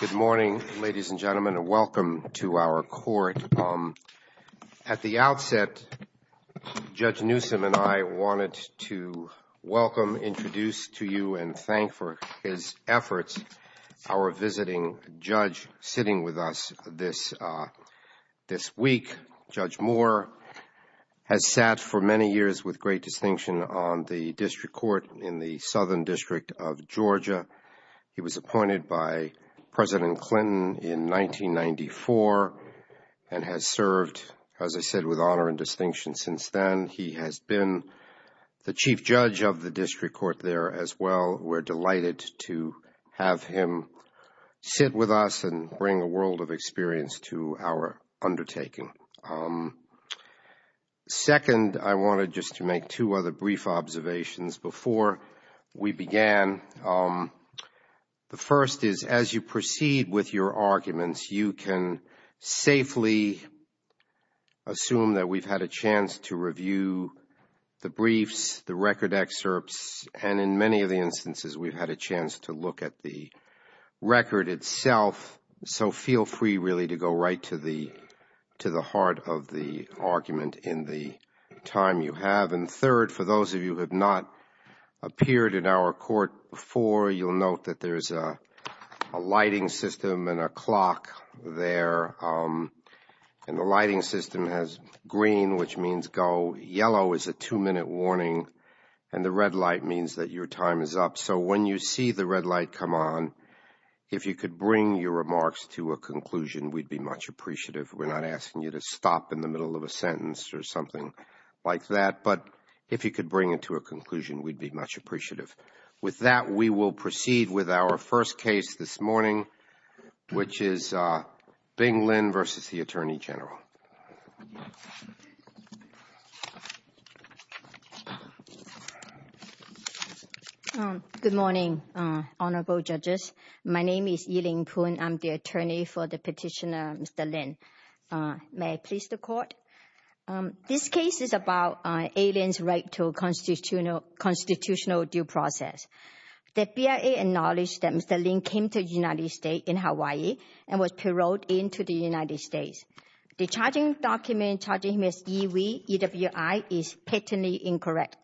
Good morning, ladies and gentlemen, and welcome to our court. At the outset, Judge Newsom and I wanted to welcome, introduce to you, and thank for his efforts, our visiting judge sitting with us this week. Judge Moore has sat for many years with great distinction on the district court in the Southern District of Georgia. He was appointed by President Clinton in 1994 and has served, as I said, with honor and distinction since then. He has been the chief judge of the district court there as well. We're delighted to have him here to sit with us and bring a world of experience to our undertaking. Second, I wanted just to make two other brief observations before we began. The first is, as you proceed with your arguments, you can safely assume that we've had a chance to review the briefs, the record itself. So feel free, really, to go right to the heart of the argument in the time you have. And third, for those of you who have not appeared in our court before, you'll note that there's a lighting system and a clock there. And the lighting system has green, which means go. Yellow is a two-minute warning. And the red light means that your time is up. So when you see the red light come on, if you could bring your remarks to a conclusion, we'd be much appreciative. We're not asking you to stop in the middle of a sentence or something like that. But if you could bring it to a conclusion, we'd be much appreciative. With that, we will proceed with our first case this morning, which is Bing Good morning, Honorable Judges. My name is Yi-Ling Poon. I'm the attorney for the petitioner, Mr. Lin. May I please the Court? This case is about A-Lin's right to a constitutional due process. The BIA acknowledged that Mr. Lin came to the United States, in Hawaii, and was paroled into the United States. The charging document, charging him as EWI, is patently incorrect.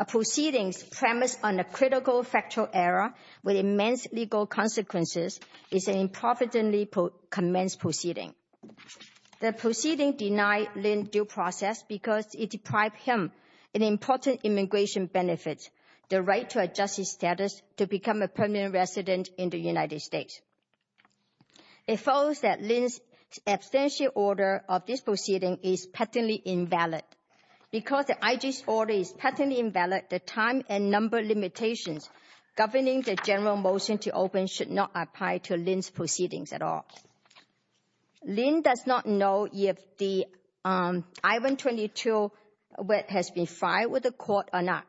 A proceeding premised on a critical factual error with immense legal consequences is an improvidently commenced proceeding. The proceeding denied Lin's due process because it deprived him of important immigration benefits, the right to a justice status to become a permanent resident in the United States. It follows that Lin's abstential order of this proceeding is patently invalid. Because the IG's order is patently invalid, the time and number limitations governing the general motion to open should not apply to Lin's proceedings at all. Lin does not know if the I-122 has been filed with the Court or not.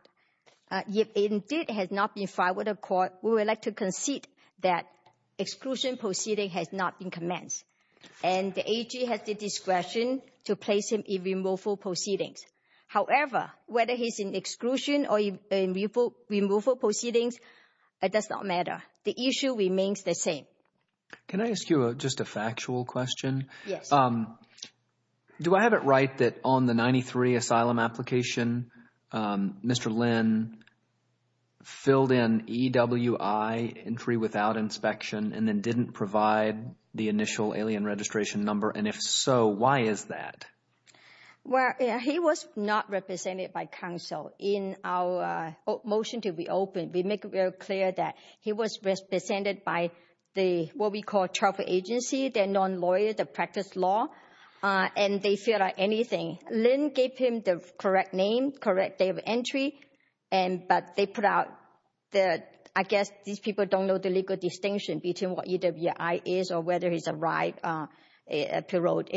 If it indeed has not been filed with the Court, we would like to concede that the IG has the discretion to place him in removal proceedings. However, whether he's in exclusion or in removal proceedings, it does not matter. The issue remains the same. Can I ask you just a factual question? Yes. Do I have it right that on the 93 asylum application, Mr. Lin filled in EWI entry without inspection and then didn't provide the initial alien registration number? And if so, why is that? Well, he was not represented by counsel in our motion to reopen. We make it very clear that he was represented by the, what we call, trust agency, the non-lawyer, the practice law, and they filled out anything. Lin gave him the correct name, correct day of entry, but they put out that, I guess, these people don't know the legal distinction between what EWI is or whether he's a right paroled.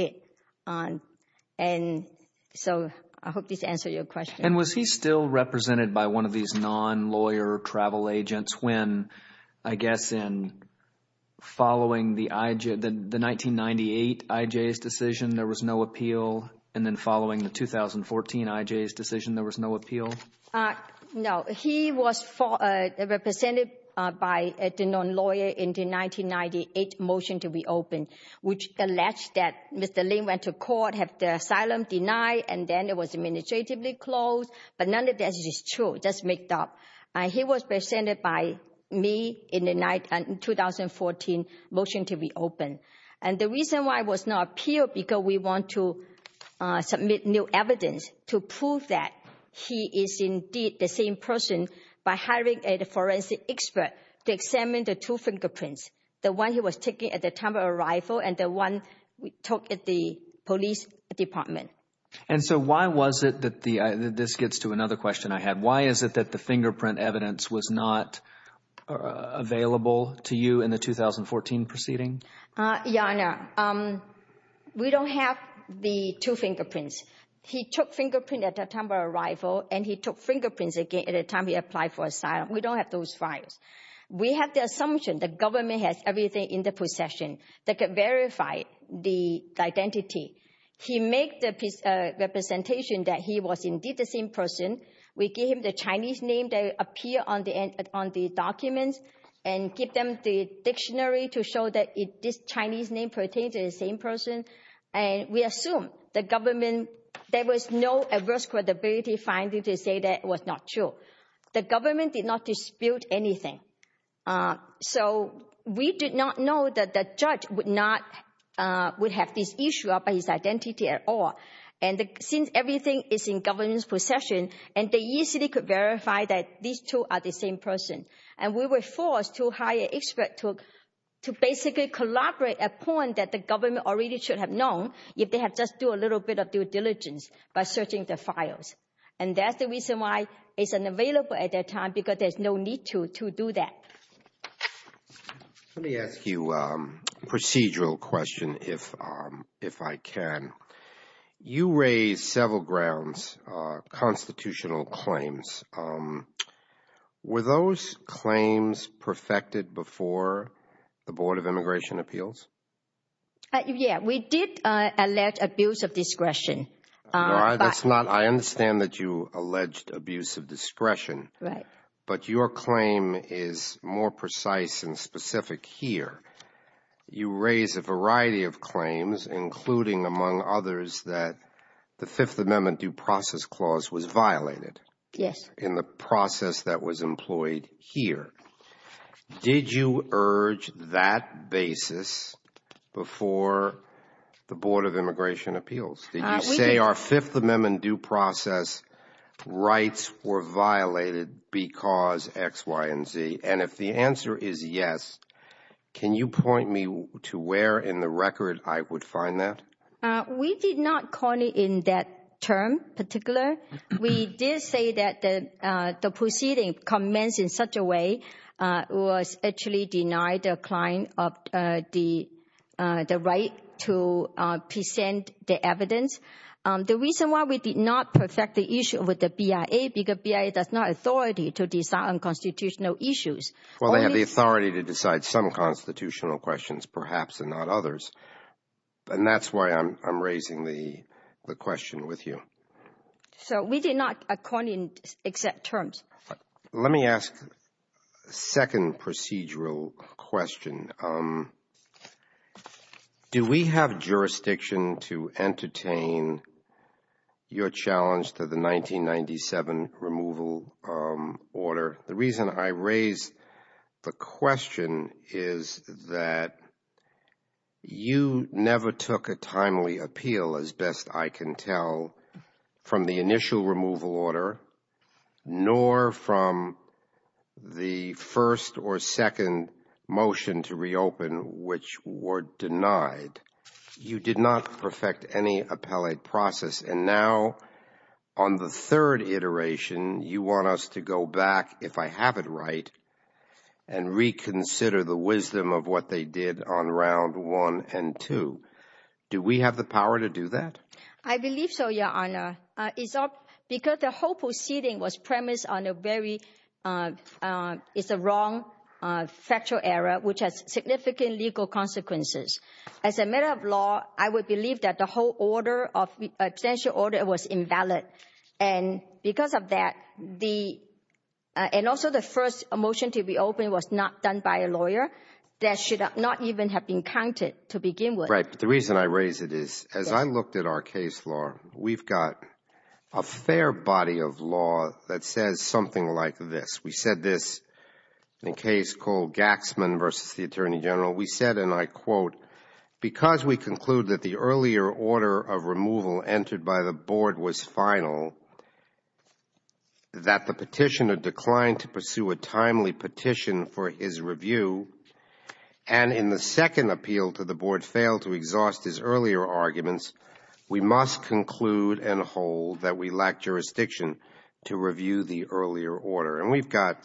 And so I hope this answers your question. And was he still represented by one of these non-lawyer travel agents when, I guess, in following the 1998 IJ's decision, there was no appeal, and then following the 2014 IJ's decision, there was no appeal? No. He was represented by the non-lawyer in the 1998 motion to reopen, which alleged that Mr. Lin went to court, had the asylum denied, and then it was administratively closed. But none of that is true. That's made up. He was presented by me in the 2014 motion to reopen. And the reason why it was not appealed, because we want to submit new evidence to prove that he is indeed the same person by hiring a forensic expert to examine the two fingerprints, the one he was taking at the time of arrival and the one we took at the police department. And so why was it that the, this gets to another question I had, why is it that the fingerprint evidence was not available to you in the 2014 proceeding? Your Honor, we don't have the two fingerprints. He took fingerprint at the time arrival and he took fingerprints again at the time he applied for asylum. We don't have those files. We have the assumption the government has everything in the possession that could verify the identity. He make the representation that he was indeed the same person. We give him the Chinese name that appear on the end, on the documents, and give them the dictionary to show that this Chinese name pertains to the same person. And we assume the government, there was no adverse credibility finding to say that was not true. The government did not dispute anything. So we did not know that the judge would not, would have this issue about his identity at all. And since everything is in government's possession, and they easily could verify that these two are the same person. And we were forced to hire expert to basically collaborate a point that the government already should have known if they had just do a little bit of due diligence by searching the files. And that's the reason why it's unavailable at that time because there's no need to do that. Let me ask you a procedural question if I can. You raised several grounds, constitutional claims. Were those claims perfected before the Board of Immigration Appeals? Yeah, we did allege abuse of discretion. That's not, I understand that you alleged abuse of discretion. Right. But your claim is more precise and specific here. You raise a variety of claims, including among others that the Fifth Amendment Due Process Clause was violated. Yes. The process that was employed here. Did you urge that basis before the Board of Immigration Appeals? Did you say our Fifth Amendment Due Process rights were violated because X, Y, and Z? And if the answer is yes, can you point me to where in the record I would find that? We did not call it in that term particular. We did say that the proceeding commenced in such a way was actually denied the client of the right to present the evidence. The reason why we did not perfect the issue with the BIA because BIA does not have authority to decide on constitutional issues. Well, they have the authority to decide some constitutional questions perhaps and not others. And that's why I'm raising the question with you. So we did not, according, accept terms. Let me ask a second procedural question. Do we have jurisdiction to entertain your challenge to the 1997 removal order? The reason I raise the question is that you never took a timely appeal as best I can tell from the initial removal order, nor from the first or second motion to reopen which were denied. You did not perfect any appellate process. And now on the third iteration, you want us to go back, if I have it right, and reconsider the wisdom of what they did on round one and two. Do we have the power to do that? I believe so, Your Honor. Because the whole proceeding was premised on a very wrong factual error which has significant legal consequences. As a matter of law, I would believe that the whole order of extension order was invalid. And because of that, the, and also the first motion to reopen was not done by a lawyer, that should not even have been counted to begin with. Right. But the reason I raise it is, as I looked at our case law, we've got a fair body of law that says something like this. We said this in a case called Gaxman versus the Attorney General. We said, and I quote, because we conclude that the earlier order of removal entered by the board was final, that the petitioner declined to pursue a timely petition for his review, and in the second appeal to the board failed to exhaust his earlier arguments, we must conclude and hold that we lack jurisdiction to review the earlier order. And we've got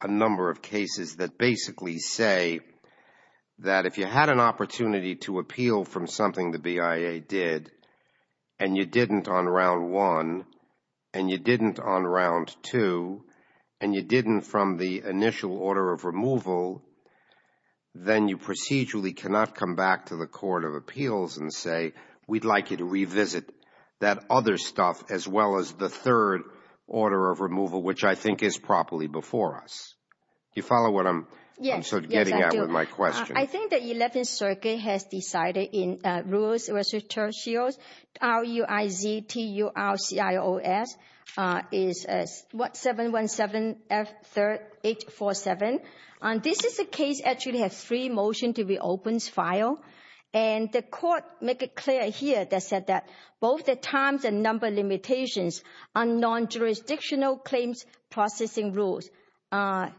a number of cases that basically say that if you had an opportunity to appeal from something the BIA did, and you didn't on round one, and you didn't on round two, and you didn't from the initial order of removal, then you procedurally cannot come back to the Court of Appeals and say, we'd like you to revisit that other stuff as well as the third order of removal, which I think is properly before us. You follow what I'm getting at with my question? I think the 11th Circuit has decided in rules, it was tertios, R-U-I-Z-T-U-R-C-I-O-S, is 717F3847. This is a case actually has three motions to reopen file, and the court make it clear here that said that both the times and number limitations on non-jurisdictional claims processing rules are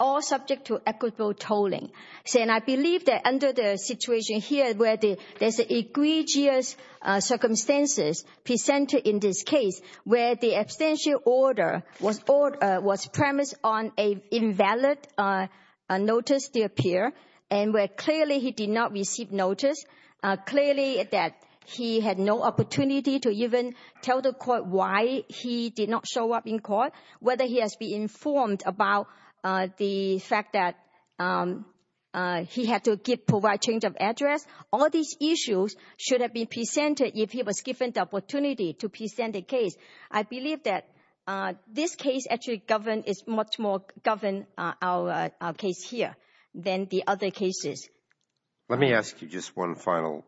all subject to equitable tolling. And I believe that under the situation here where there's an egregious circumstances presented in this case, where the abstention order was premised on an invalid notice to appear, and where clearly he did not receive notice, clearly that he had no opportunity to even tell the court why he did not show up in court, whether he has been informed about the fact that he had to provide change of address. All these issues should have been presented if he was given the opportunity to present the case. I believe that this case actually govern is much more govern our case here than the other cases. Let me ask you just one final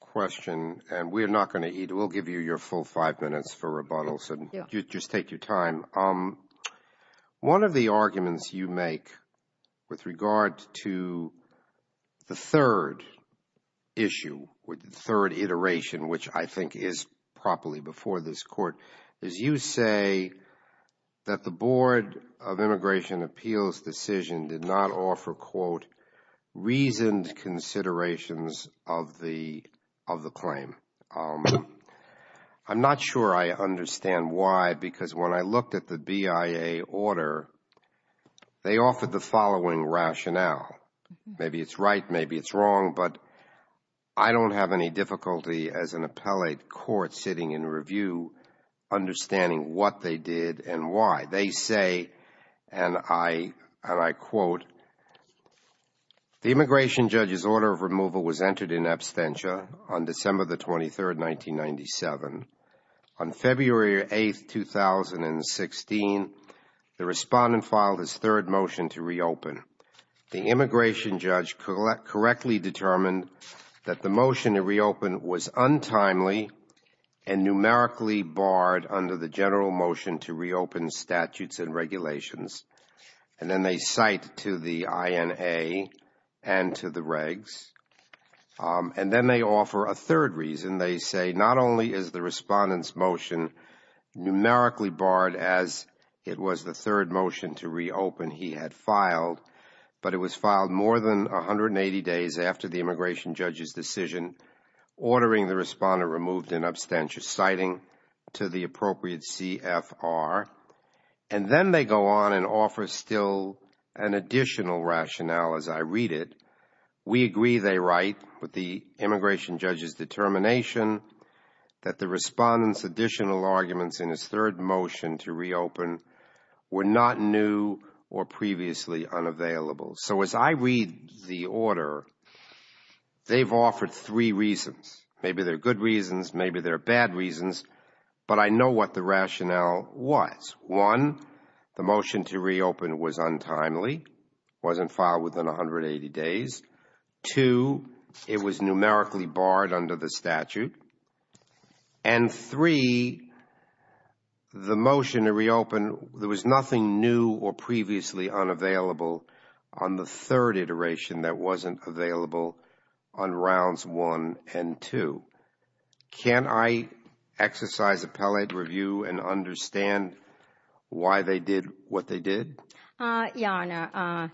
question, and we're not going to eat. We'll give you your five minutes for rebuttals, and you just take your time. One of the arguments you make with regard to the third issue with the third iteration, which I think is properly before this court, is you say that the Board of Immigration Appeals decision did not offer, quote, I'm not sure I understand why, because when I looked at the BIA order, they offered the following rationale. Maybe it's right, maybe it's wrong, but I don't have any difficulty as an appellate court sitting in review understanding what they did and why. They say, and I quote, quote, the immigration judge's order of removal was entered in absentia on December the 23rd, 1997. On February 8th, 2016, the respondent filed his third motion to reopen. The immigration judge correctly determined that the motion to reopen was untimely and numerically barred under the general motion to reopen statutes and regulations, and then they cite to the INA and to the regs. And then they offer a third reason. They say, not only is the respondent's motion numerically barred as it was the third motion to reopen he had filed, but it was filed more than 180 days after the immigration judge's decision, ordering the respondent removed in absentia, citing to the appropriate CFR. And then they go on and offer still an additional rationale as I read it. We agree, they write, with the immigration judge's determination that the respondent's additional arguments in his third motion to reopen were not new or previously unavailable. So as I read the order, they've offered three reasons. Maybe they're good reasons, maybe they're bad reasons, but I know what the rationale was. One, the motion to reopen was untimely, wasn't filed within 180 days. Two, it was numerically barred under the statute. And three, the motion to reopen, there was nothing new or previously unavailable on the third iteration that wasn't available on rounds one and two. Can I exercise appellate review and understand why they did what they did? Your Honor,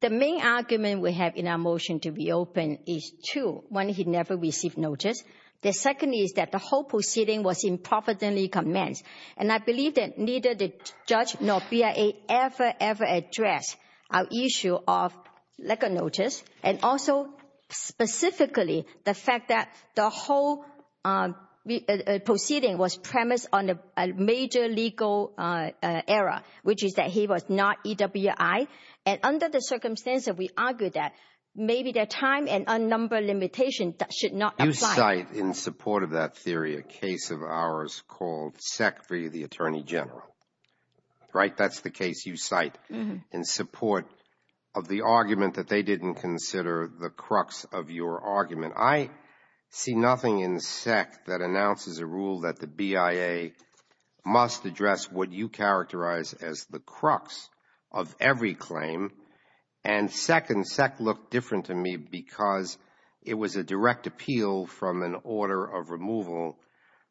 the main argument we have in our motion to reopen is two. One, he never received notice. The second is that the whole proceeding was improperly commenced. And I believe that judge nor BIA ever, ever addressed our issue of legal notice and also specifically the fact that the whole proceeding was premised on a major legal error, which is that he was not EWI. And under the circumstances, we argue that maybe the time and unnumbered limitation should not apply. You cite in support of that theory a case of ours called Secretary of the Attorney General. Right? That's the case you cite in support of the argument that they didn't consider the crux of your argument. I see nothing in SEC that announces a rule that the BIA must address what you characterize as the crux of every claim. And second, SEC looked different to me because it was a direct appeal from an order of removal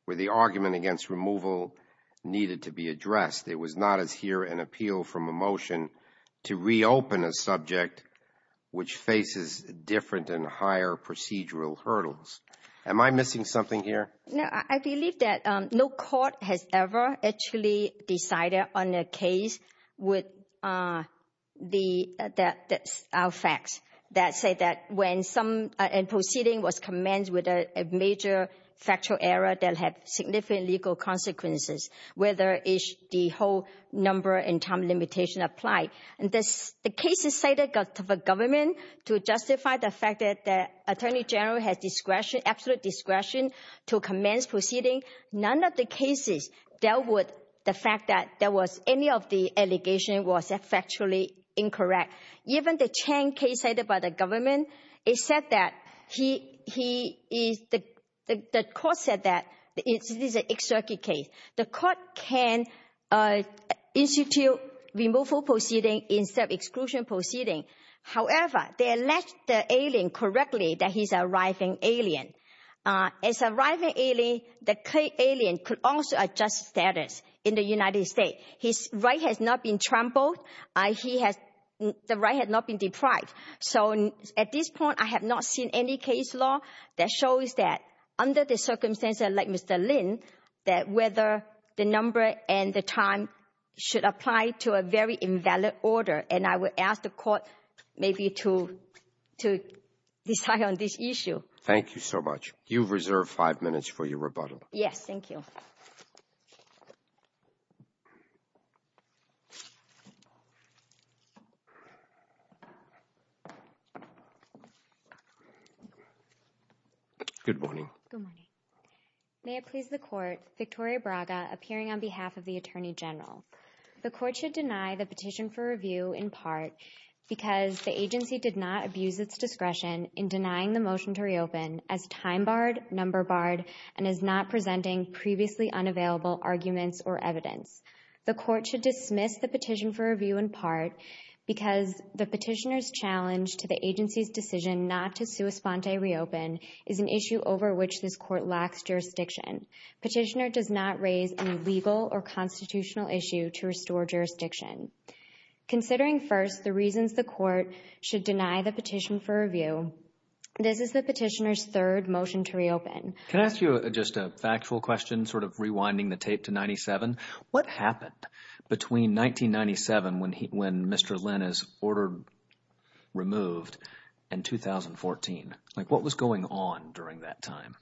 where the argument against removal needed to be addressed. It was not as here an appeal from a motion to reopen a subject which faces different and higher procedural hurdles. Am I missing something here? No, I believe that no court has ever actually decided on a case with the out facts that say that when some proceeding was commenced with a major factual error that had significant legal consequences, whether the whole number and time limitation apply. And the case is cited by the government to justify the fact that the Attorney General has absolute discretion to commence proceeding. None of the cases dealt with the fact that there was a factually incorrect. Even the Chang case cited by the government, it said that the court said that this is an exercise case. The court can institute removal proceeding instead of exclusion proceeding. However, they elect the alien correctly that he's arriving alien. As arriving alien, the alien could also adjust status in the United States. His right has not been trampled. The right has not been deprived. So at this point, I have not seen any case law that shows that under the circumstances like Mr. Lin, that whether the number and the time should apply to a very invalid order. And I would ask the court maybe to decide on this issue. Thank you so much. You've reserved five minutes for your rebuttal. Yes, thank you. Good morning. Good morning. May it please the court, Victoria Braga, appearing on behalf of the Attorney General. The court should deny the petition for review in part because the agency did not abuse its discretion in denying the motion to reopen as time barred, number barred, and is not presenting previously unavailable arguments or evidence. The court should dismiss the petition for review in part because the petitioner's challenge to the agency's decision not to sua sponte reopen is an issue over which this court lacks jurisdiction. Petitioner does not raise any legal or constitutional issue to restore jurisdiction. Considering first the reasons the court should deny the petition for review, this is the petitioner's third motion to reopen. Can I ask you just a factual question, sort of rewinding the tape to 97? What happened between 1997 when he, when Mr. Lynn is ordered removed and 2014? Like what was going on during that time?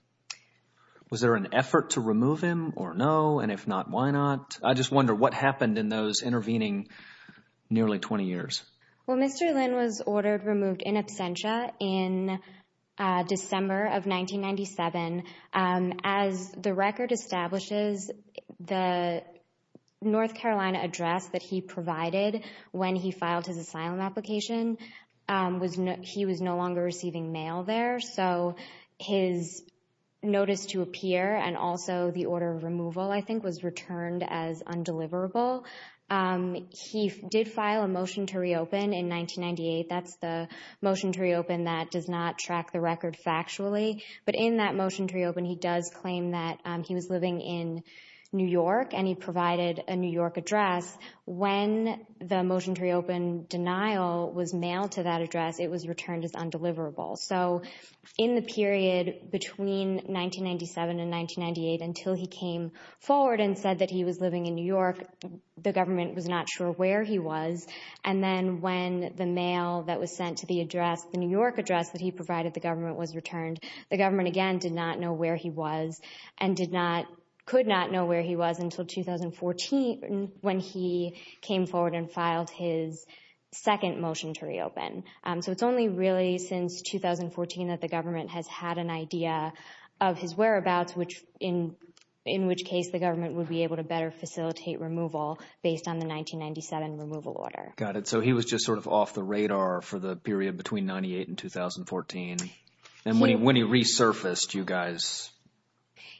Was there an effort to remove him or no? And if not, why not? I just wonder what happened in those intervening nearly 20 years? Well, Mr. Lynn was ordered removed in absentia in December of 1997. As the record establishes, the North Carolina address that he provided when he filed his asylum application, he was no longer receiving mail there. So his notice to appear and also the order of removal, I think, was returned as undeliverable. Um, he did file a motion to reopen in 1998. That's the motion to reopen that does not track the record factually. But in that motion to reopen, he does claim that he was living in New York and he provided a New York address. When the motion to reopen denial was mailed to that address, it was returned as undeliverable. So in the period between 1997 and 1998, until he came forward and said that he was living in New York, the government was not sure where he was. And then when the mail that was sent to the address, the New York address that he provided, the government was returned. The government, again, did not know where he was and did not, could not know where he was until 2014 when he came forward and filed his second motion to reopen. So it's only really since 2014 that the government has had an idea of his whereabouts, which in, in which case the government would be able to better facilitate removal based on the 1997 removal order. Got it. So he was just sort of off the radar for the period between 98 and 2014. And when he resurfaced, you guys.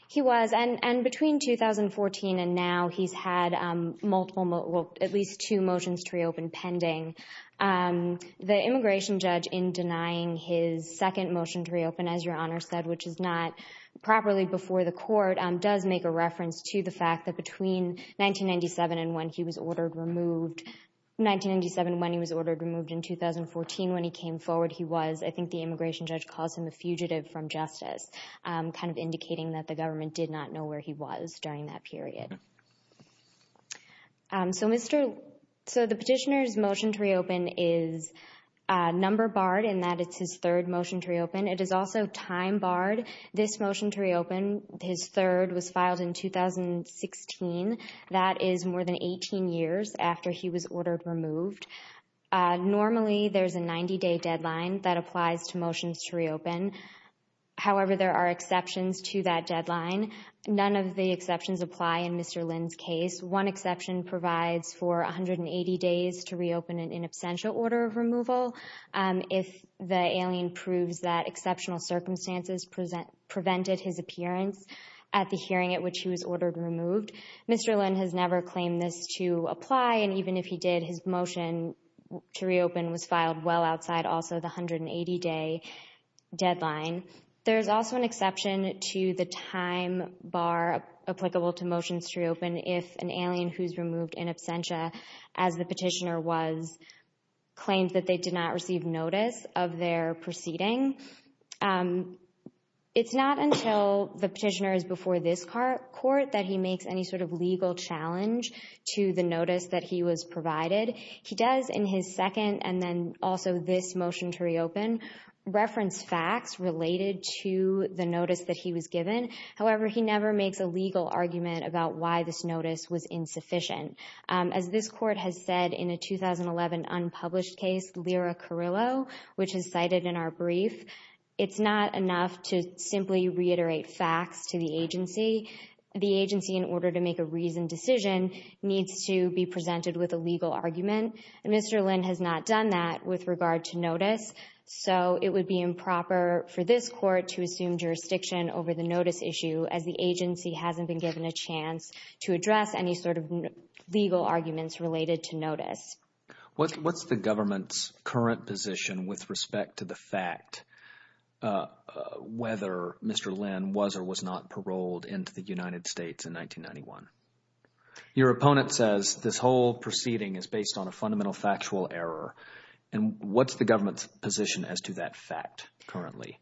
He was. And between 2014 and now, he's had multiple, well, at least two motions to reopen pending. The immigration judge, in denying his second motion to reopen, as your honor said, which is not properly before the court, does make a reference to the fact that between 1997 and when he was ordered removed, 1997, when he was ordered removed in 2014, when he came forward, he was, I think the immigration judge calls him a fugitive from justice. Kind of indicating that the government did not know where he was during that period. So Mr. So the petitioner's motion to reopen is number barred in that it's his third motion to reopen. It is also time barred. This motion to reopen his third was filed in 2016. That is more than 18 years after he was ordered removed. Normally there's a 90 day deadline that applies to motions to reopen. However, there are exceptions to that deadline. None of the exceptions apply in Mr. Lynn's case. One exception provides for 180 days to reopen an in absentia order of removal. If the alien proves that exceptional circumstances present prevented his appearance at the hearing at which he was ordered removed, Mr. Lynn has never claimed this to apply. And even if he did, his motion to reopen was filed well outside also the 180 day deadline. There's also an exception to the time bar applicable to motions to reopen if an alien who's removed in absentia as the petitioner claimed that they did not receive notice of their proceeding. It's not until the petitioner is before this court that he makes any sort of legal challenge to the notice that he was provided. He does in his second and then also this motion to reopen reference facts related to the notice that he was given. However, he never makes a legal argument about why this notice was insufficient. As this court has said in a 2011 unpublished case, Lira Carrillo, which is cited in our brief, it's not enough to simply reiterate facts to the agency. The agency in order to make a reasoned decision needs to be presented with a legal argument. And Mr. Lynn has not done that with regard to notice. So it would be improper for this court to assume jurisdiction over the notice issue as the agency hasn't been given a chance to address any sort of legal arguments related to notice. What's the government's current position with respect to the fact whether Mr. Lynn was or was not paroled into the United States in 1991? Your opponent says this whole proceeding is based on a fundamental factual error. And what's the government's position as to that fact currently?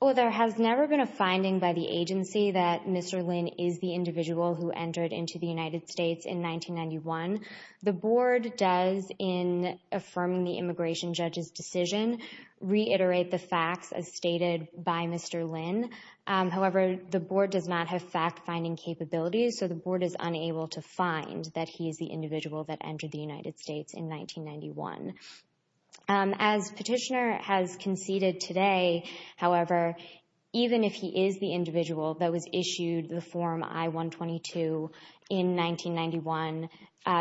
Well, there has never been a finding by the agency that Mr. Lynn is the individual who entered into the United States in 1991. The board does in affirming the immigration judge's decision reiterate the facts as stated by Mr. Lynn. However, the board does not have fact finding capabilities. So the board is unable to find that he is the individual that entered the United However, even if he is the individual that was issued the form I-122 in 1991,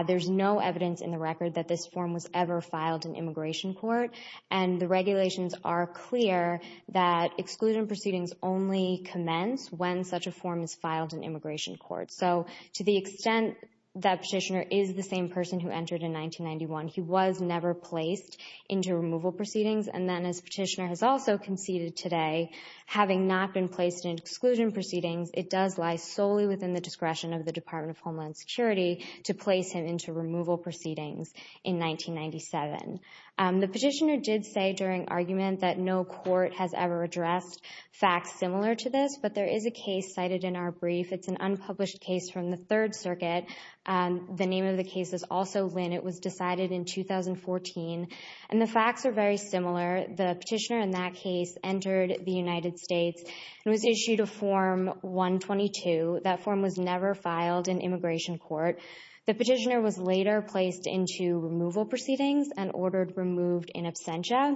there's no evidence in the record that this form was ever filed in immigration court. And the regulations are clear that exclusion proceedings only commence when such a form is filed in immigration court. So to the extent that petitioner is the same person who entered in 1991, he was never placed into removal proceedings. And then as petitioner has also conceded today, having not been placed in exclusion proceedings, it does lie solely within the discretion of the Department of Homeland Security to place him into removal proceedings in 1997. The petitioner did say during argument that no court has ever addressed facts similar to this, but there is a case cited in our brief. It's an unpublished case from the Third Circuit. The name of the case is also Lynn. It was decided in 2014, and the facts are very similar. The petitioner in that case entered the United States and was issued a form I-122. That form was never filed in immigration court. The petitioner was later placed into removal proceedings and ordered removed in absentia.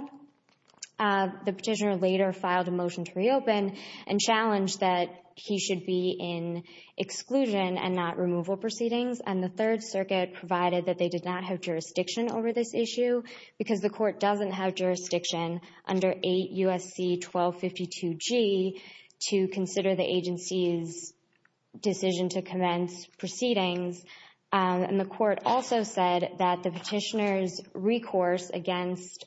The petitioner later filed a motion to reopen and challenged that he should be in exclusion and not removal proceedings. And the Third Circuit provided that they did not have jurisdiction over this issue because the court doesn't have jurisdiction under 8 U.S.C. 1252G to consider the agency's decision to commence proceedings. And the court also said that the petitioner's recourse against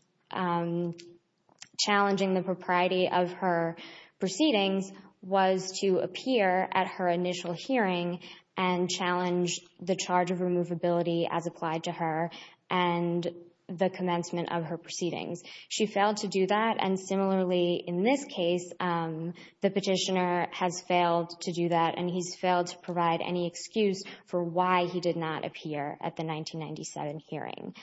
challenging the propriety of her proceedings was to appear at her initial hearing and challenge the charge of removability as applied to her and the commencement of her proceedings. She failed to do that, and similarly in this case, the petitioner has failed to do that and he's failed to provide any excuse for why he did not appear at the 1997 hearing.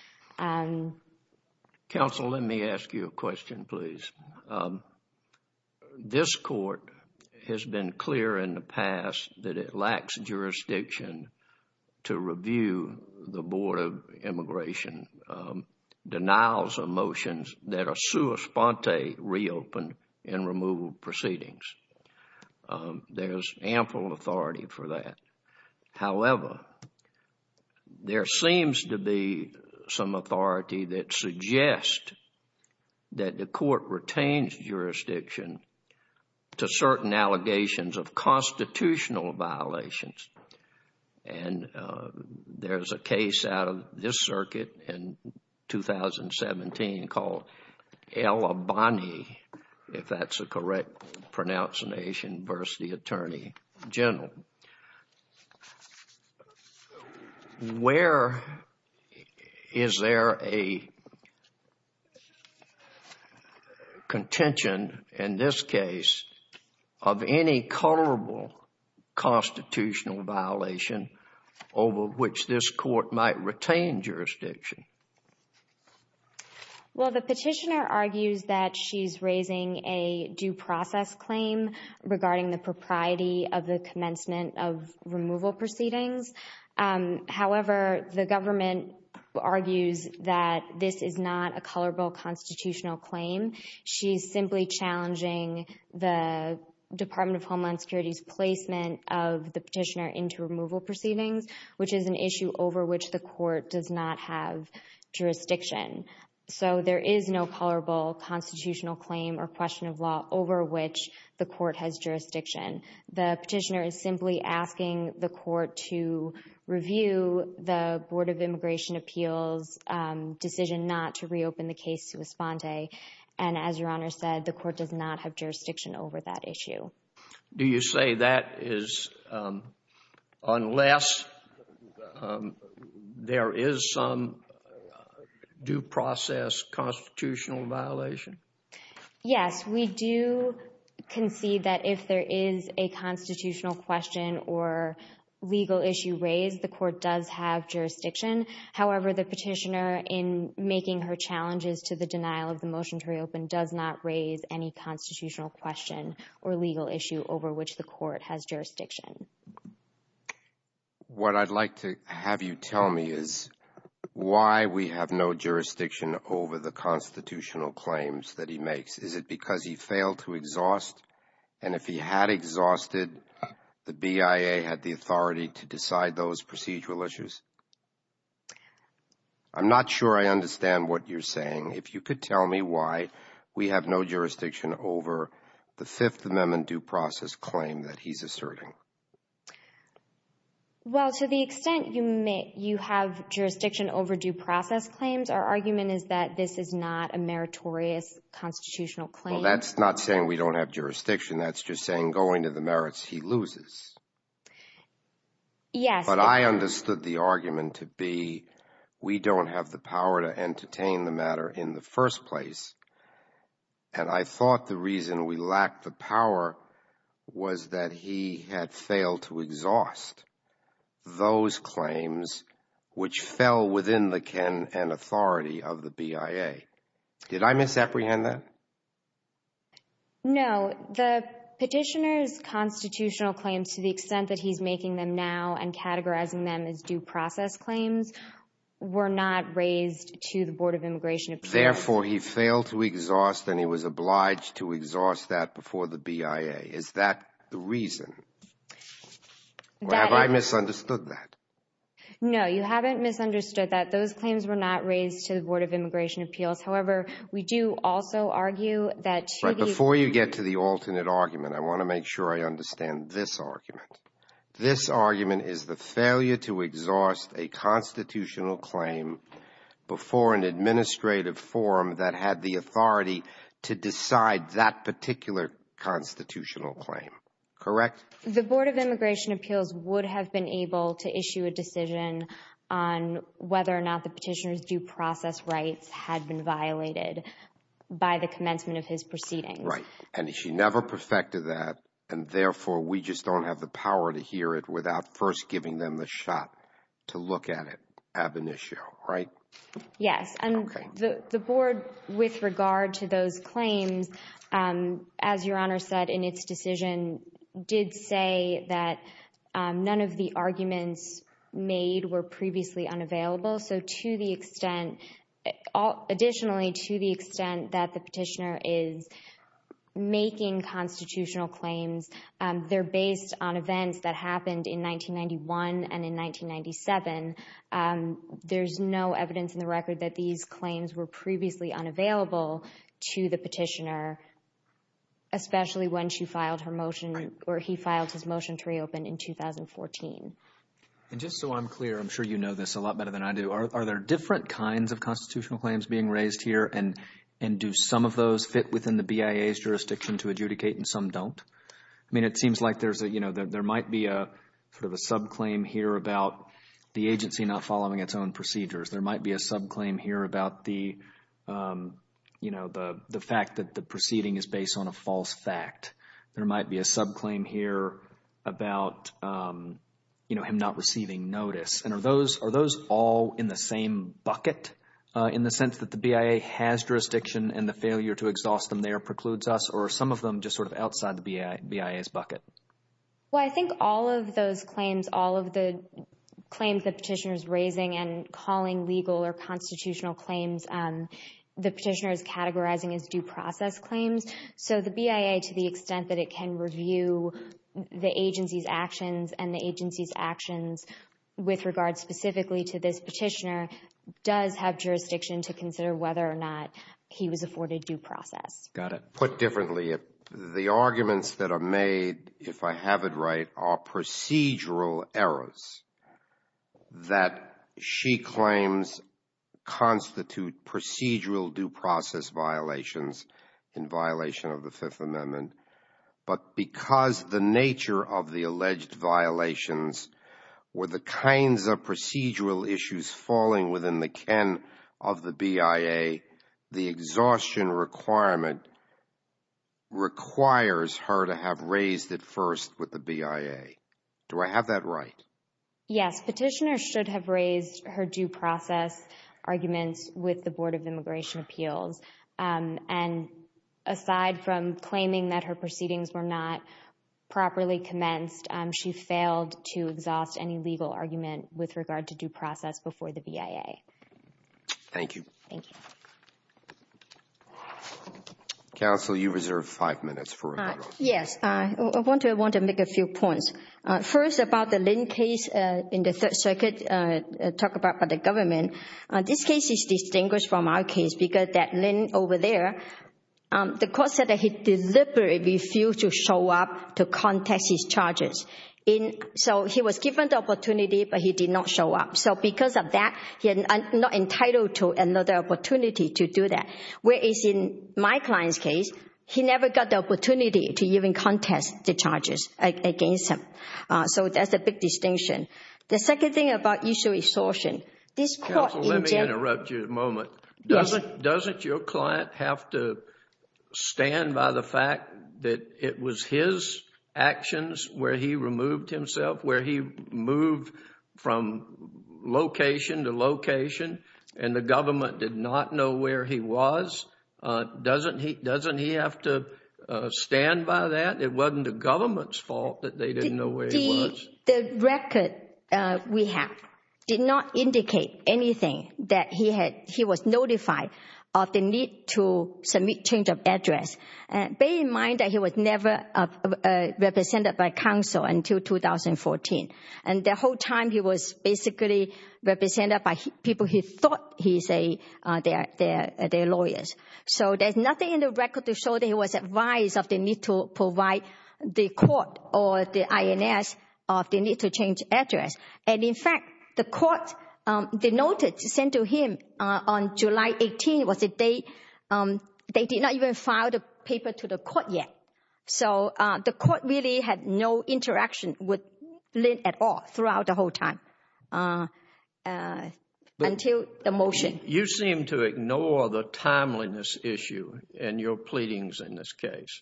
Counsel, let me ask you a question, please. This court has been clear in the past that it lacks jurisdiction to review the Board of Immigration denials of motions that are sua sponte reopened in removal proceedings. There's ample authority for that. However, there seems to be some authority that suggests that the court retains jurisdiction to certain allegations of constitutional violations. And there's a case out of this circuit in 2017 called El Abani, if that's the correct pronunciation, versus the Attorney General. Where is there a contention in this case of any colorable constitutional violation over which this court might retain jurisdiction? Well, the petitioner argues that she's raising a due process claim regarding the propriety of commencement of removal proceedings. However, the government argues that this is not a colorable constitutional claim. She's simply challenging the Department of Homeland Security's placement of the petitioner into removal proceedings, which is an issue over which the court does not have jurisdiction. So there is no colorable constitutional claim or question of law over which the court has jurisdiction. The petitioner is simply asking the court to review the Board of Immigration Appeals' decision not to reopen the case sua sponte. And as Your Honor said, the court does not have jurisdiction over that issue. Do you say that is unless there is some due process constitutional violation? Yes, we do concede that if there is a constitutional question or legal issue raised, the court does have jurisdiction. However, the petitioner, in making her challenges to the denial of the motion to reopen, does not raise any constitutional question or legal issue over which the court has jurisdiction. What I'd like to have you tell me is why we have no jurisdiction over the constitutional claims that he makes. Is it because he failed to exhaust? And if he had exhausted, the BIA had the authority to decide those procedural issues? I'm not sure I understand what you're saying. If you could tell me why we have no jurisdiction over the Fifth Amendment due process claim that he's asserting. Well, to the extent you may, you have jurisdiction over due process claims, our argument is that this is not a meritorious constitutional claim. Well, that's not saying we don't have jurisdiction. That's just saying going to the merits, he loses. Yes. But I understood the argument to be we don't have the power to entertain the matter in the first place. And I thought the reason we lacked the power was that he had failed to exhaust those claims which fell within the ken and authority of the BIA. Did I misapprehend that? No. The petitioner's constitutional claims, to the extent that he's making them now and categorizing them as due process claims, were not raised to the Board of Immigration. Therefore, he failed to exhaust and he was obliged to exhaust that before the BIA. Is that the reason? Have I misunderstood that? No, you haven't misunderstood that. Those claims were not raised to the Board of Immigration Appeals. However, we do also argue that before you get to the alternate argument, I want to make sure I understand this argument. This argument is the failure to exhaust a constitutional claim before an administrative forum that had the authority to decide that particular constitutional claim. Correct? The Board of Immigration Appeals would have been able to issue a decision on whether or not the petitioner's due process rights had been violated by the commencement of his proceedings. Right. And he never perfected that. And therefore, we just don't have the power to hear it without first giving them the shot to look at it ab initio. Right? Yes. And the Board, with regard to those claims, as Your Honor said in its decision, did say that none of the arguments made were previously unavailable. So to the extent, additionally, to the extent that the petitioner is making constitutional claims, they're based on events that happened in 1991 and in 1997, there's no evidence in the record that these claims were previously unavailable to the petitioner, especially when she filed her motion or he filed his motion to reopen in 2014. And just so I'm clear, I'm sure you know this a lot better than I do, are there different kinds of constitutional claims being raised here? And do some of those fit within the BIA's jurisdiction to adjudicate and some don't? I mean, it seems like there's a, you know, there might be a sort of a subclaim here about the agency not following its own procedures. There might be a subclaim here about the, you know, the fact that the proceeding is based on a false fact. There might be a subclaim here about, you know, him not receiving notice. And are those all in the same bucket in the sense that the BIA has jurisdiction and the failure to exhaust them there precludes us or some of them just sort of outside the BIA's bucket? Well, I think all of those claims, all of the claims the petitioner is raising and calling legal or constitutional claims, the petitioner is categorizing as due process claims. So the BIA, to the extent that it can review the agency's actions and the agency's actions with regard specifically to this petitioner, does have jurisdiction to consider whether or not he was afforded due process. Got it. Put differently, the arguments that are made, if I have it right, are procedural errors that she claims constitute procedural due process violations in violation of the Fifth Amendment. But because the nature of the alleged violations were the kinds of procedural issues falling within the ken of the BIA, the exhaustion requirement requires her to have raised it first with the BIA. Do I have that right? Yes, petitioner should have raised her due process arguments with the Board of Immigration Appeals. And aside from claiming that her proceedings were not properly commenced, she failed to exhaust any legal argument with regard to due process before the BIA. Thank you. Thank you. Counsel, you reserve five minutes for rebuttal. Yes, I want to make a few points. First, about the Lin case in the Third Circuit talked about by the government, this case is distinguished from our case because that Lin over there, the court said that he deliberately refused to show up to contest his charges. So he was given the opportunity, but he did not show up. So because of that, he was not entitled to another opportunity to do that. Whereas in my client's case, he never got the opportunity to even contest the charges against him. So that's a big distinction. The second thing about issue of exhaustion, this court— Counsel, let me interrupt you a moment. Yes. Doesn't your client have to stand by the fact that it was his actions where he removed himself, where he moved from location to location, and the government did not know where he was? Doesn't he have to stand by that? It wasn't the government's fault that they didn't know where he was. The record we have did not indicate anything that he was notified of the need to submit change of And the whole time he was basically represented by people who thought he was their lawyer. So there's nothing in the record to show that he was advised of the need to provide the court or the INS of the need to change address. And in fact, the court denoted, sent to him on July 18 was the date they did not even file the paper to the court yet. So the court really had no interaction with Lynn at all throughout the whole time until the motion. You seem to ignore the timeliness issue in your pleadings in this case.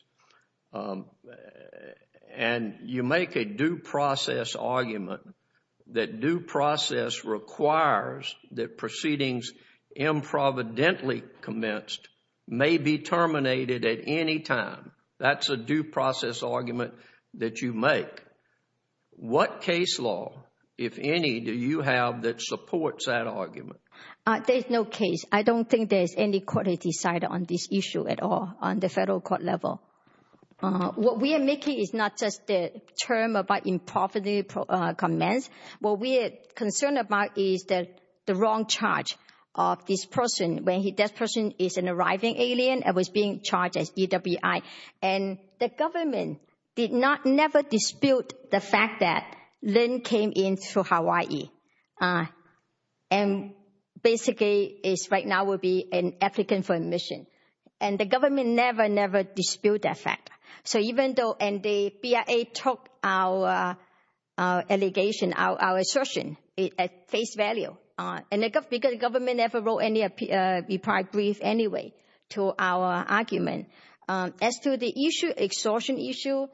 And you make a due process argument that due process requires that proceedings improvidently commenced may be terminated at any time. That's a due process argument that you make. What case law, if any, do you have that supports that argument? There's no case. I don't think there's any court has decided on this issue at all on the federal court level. What we are making is not just the term about improvidently commenced. What we are concerned about is that the wrong charge of this person when this person is an arriving alien and was being charged as EWI. And the government did not never dispute the fact that Lynn came in through Hawaii and basically is right now will be an applicant for admission. And the government never, never dispute that fact. So even though, and the BIA took our allegation, our assertion at face value, because the government never wrote any reply brief anyway to our argument. As to the issue, extortion issue,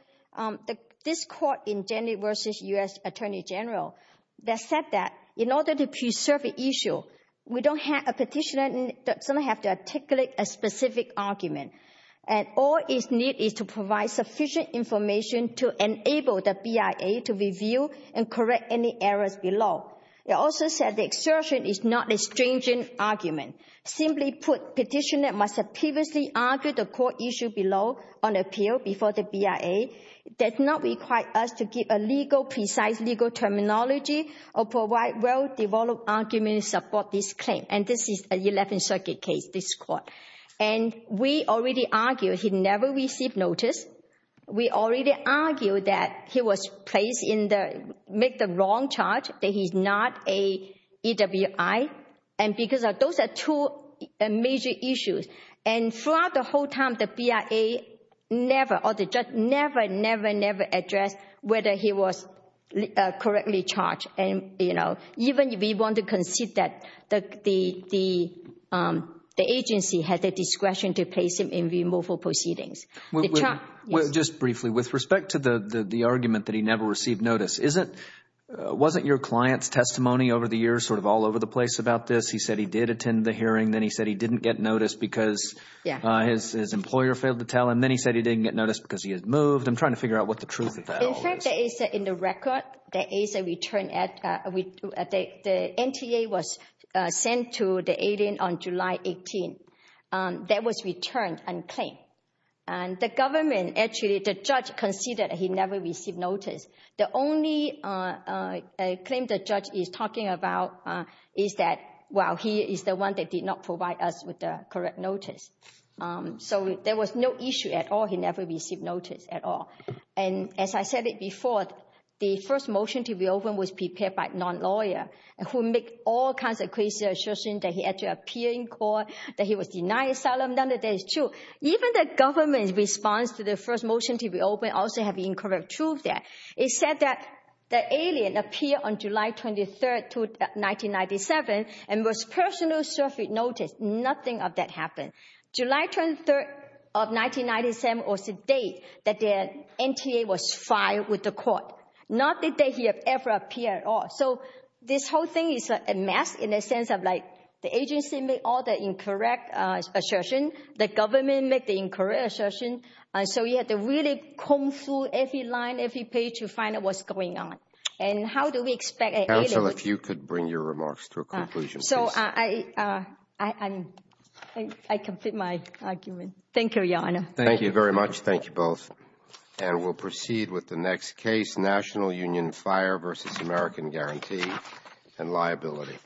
this court in January versus U.S. Attorney General, they said that in order to preserve the issue, we don't have a petitioner that doesn't have to articulate a specific argument. And all it needs is to provide sufficient information to enable the BIA to review and correct any errors below. They also said the exertion is not a stringent argument. Simply put, petitioner must have previously argued the court issue below on appeal before the BIA, does not require us to give a legal, precise legal terminology or provide well-developed argument to support this claim. And this is an 11th Circuit case, this court. And we already argued he never received notice. We already argued that he was placed in the, made the wrong charge, that he's not a EWI. And because those are two major issues. And throughout the whole time, the BIA never, or the judge never, never, never addressed whether he was correctly charged. And even if we want to concede that the agency had the discretion to place him in removal proceedings. Just briefly, with respect to the argument that he never received notice, wasn't your client's testimony over the years sort of all over the place about this? He said he did attend the hearing. Then he said he didn't get notice because his employer failed to tell him. Then he said he didn't get notice because he had moved. I'm trying to figure out what the NTA was sent to the alien on July 18. That was returned unclaimed. And the government, actually, the judge conceded he never received notice. The only claim the judge is talking about is that, well, he is the one that did not provide us with the correct notice. So there was no issue at all. He never received notice at all. And as I said it before, the first motion to reopen was prepared by a non-lawyer, who made all kinds of crazy assurances that he had to appear in court, that he was denied asylum. None of that is true. Even the government's response to the first motion to reopen also have incorrect truth there. It said that the alien appeared on July 23rd, 1997, and was personally served with notice. Nothing of that happened. July 23rd of 1997 was the date that the NTA was filed with the court. Not the date he ever appeared at all. So this whole thing is a mess in the sense of, like, the agency made all the incorrect assertions. The government made the incorrect assertions. And so you had to really comb through every line, every page to find out what's going on. And how do we expect an alien to— Counsel, if you could bring your remarks to a conclusion, please. Thank you very much. Thank you both. And we'll proceed with the next case, National Union Fire v. American Guarantee and liability.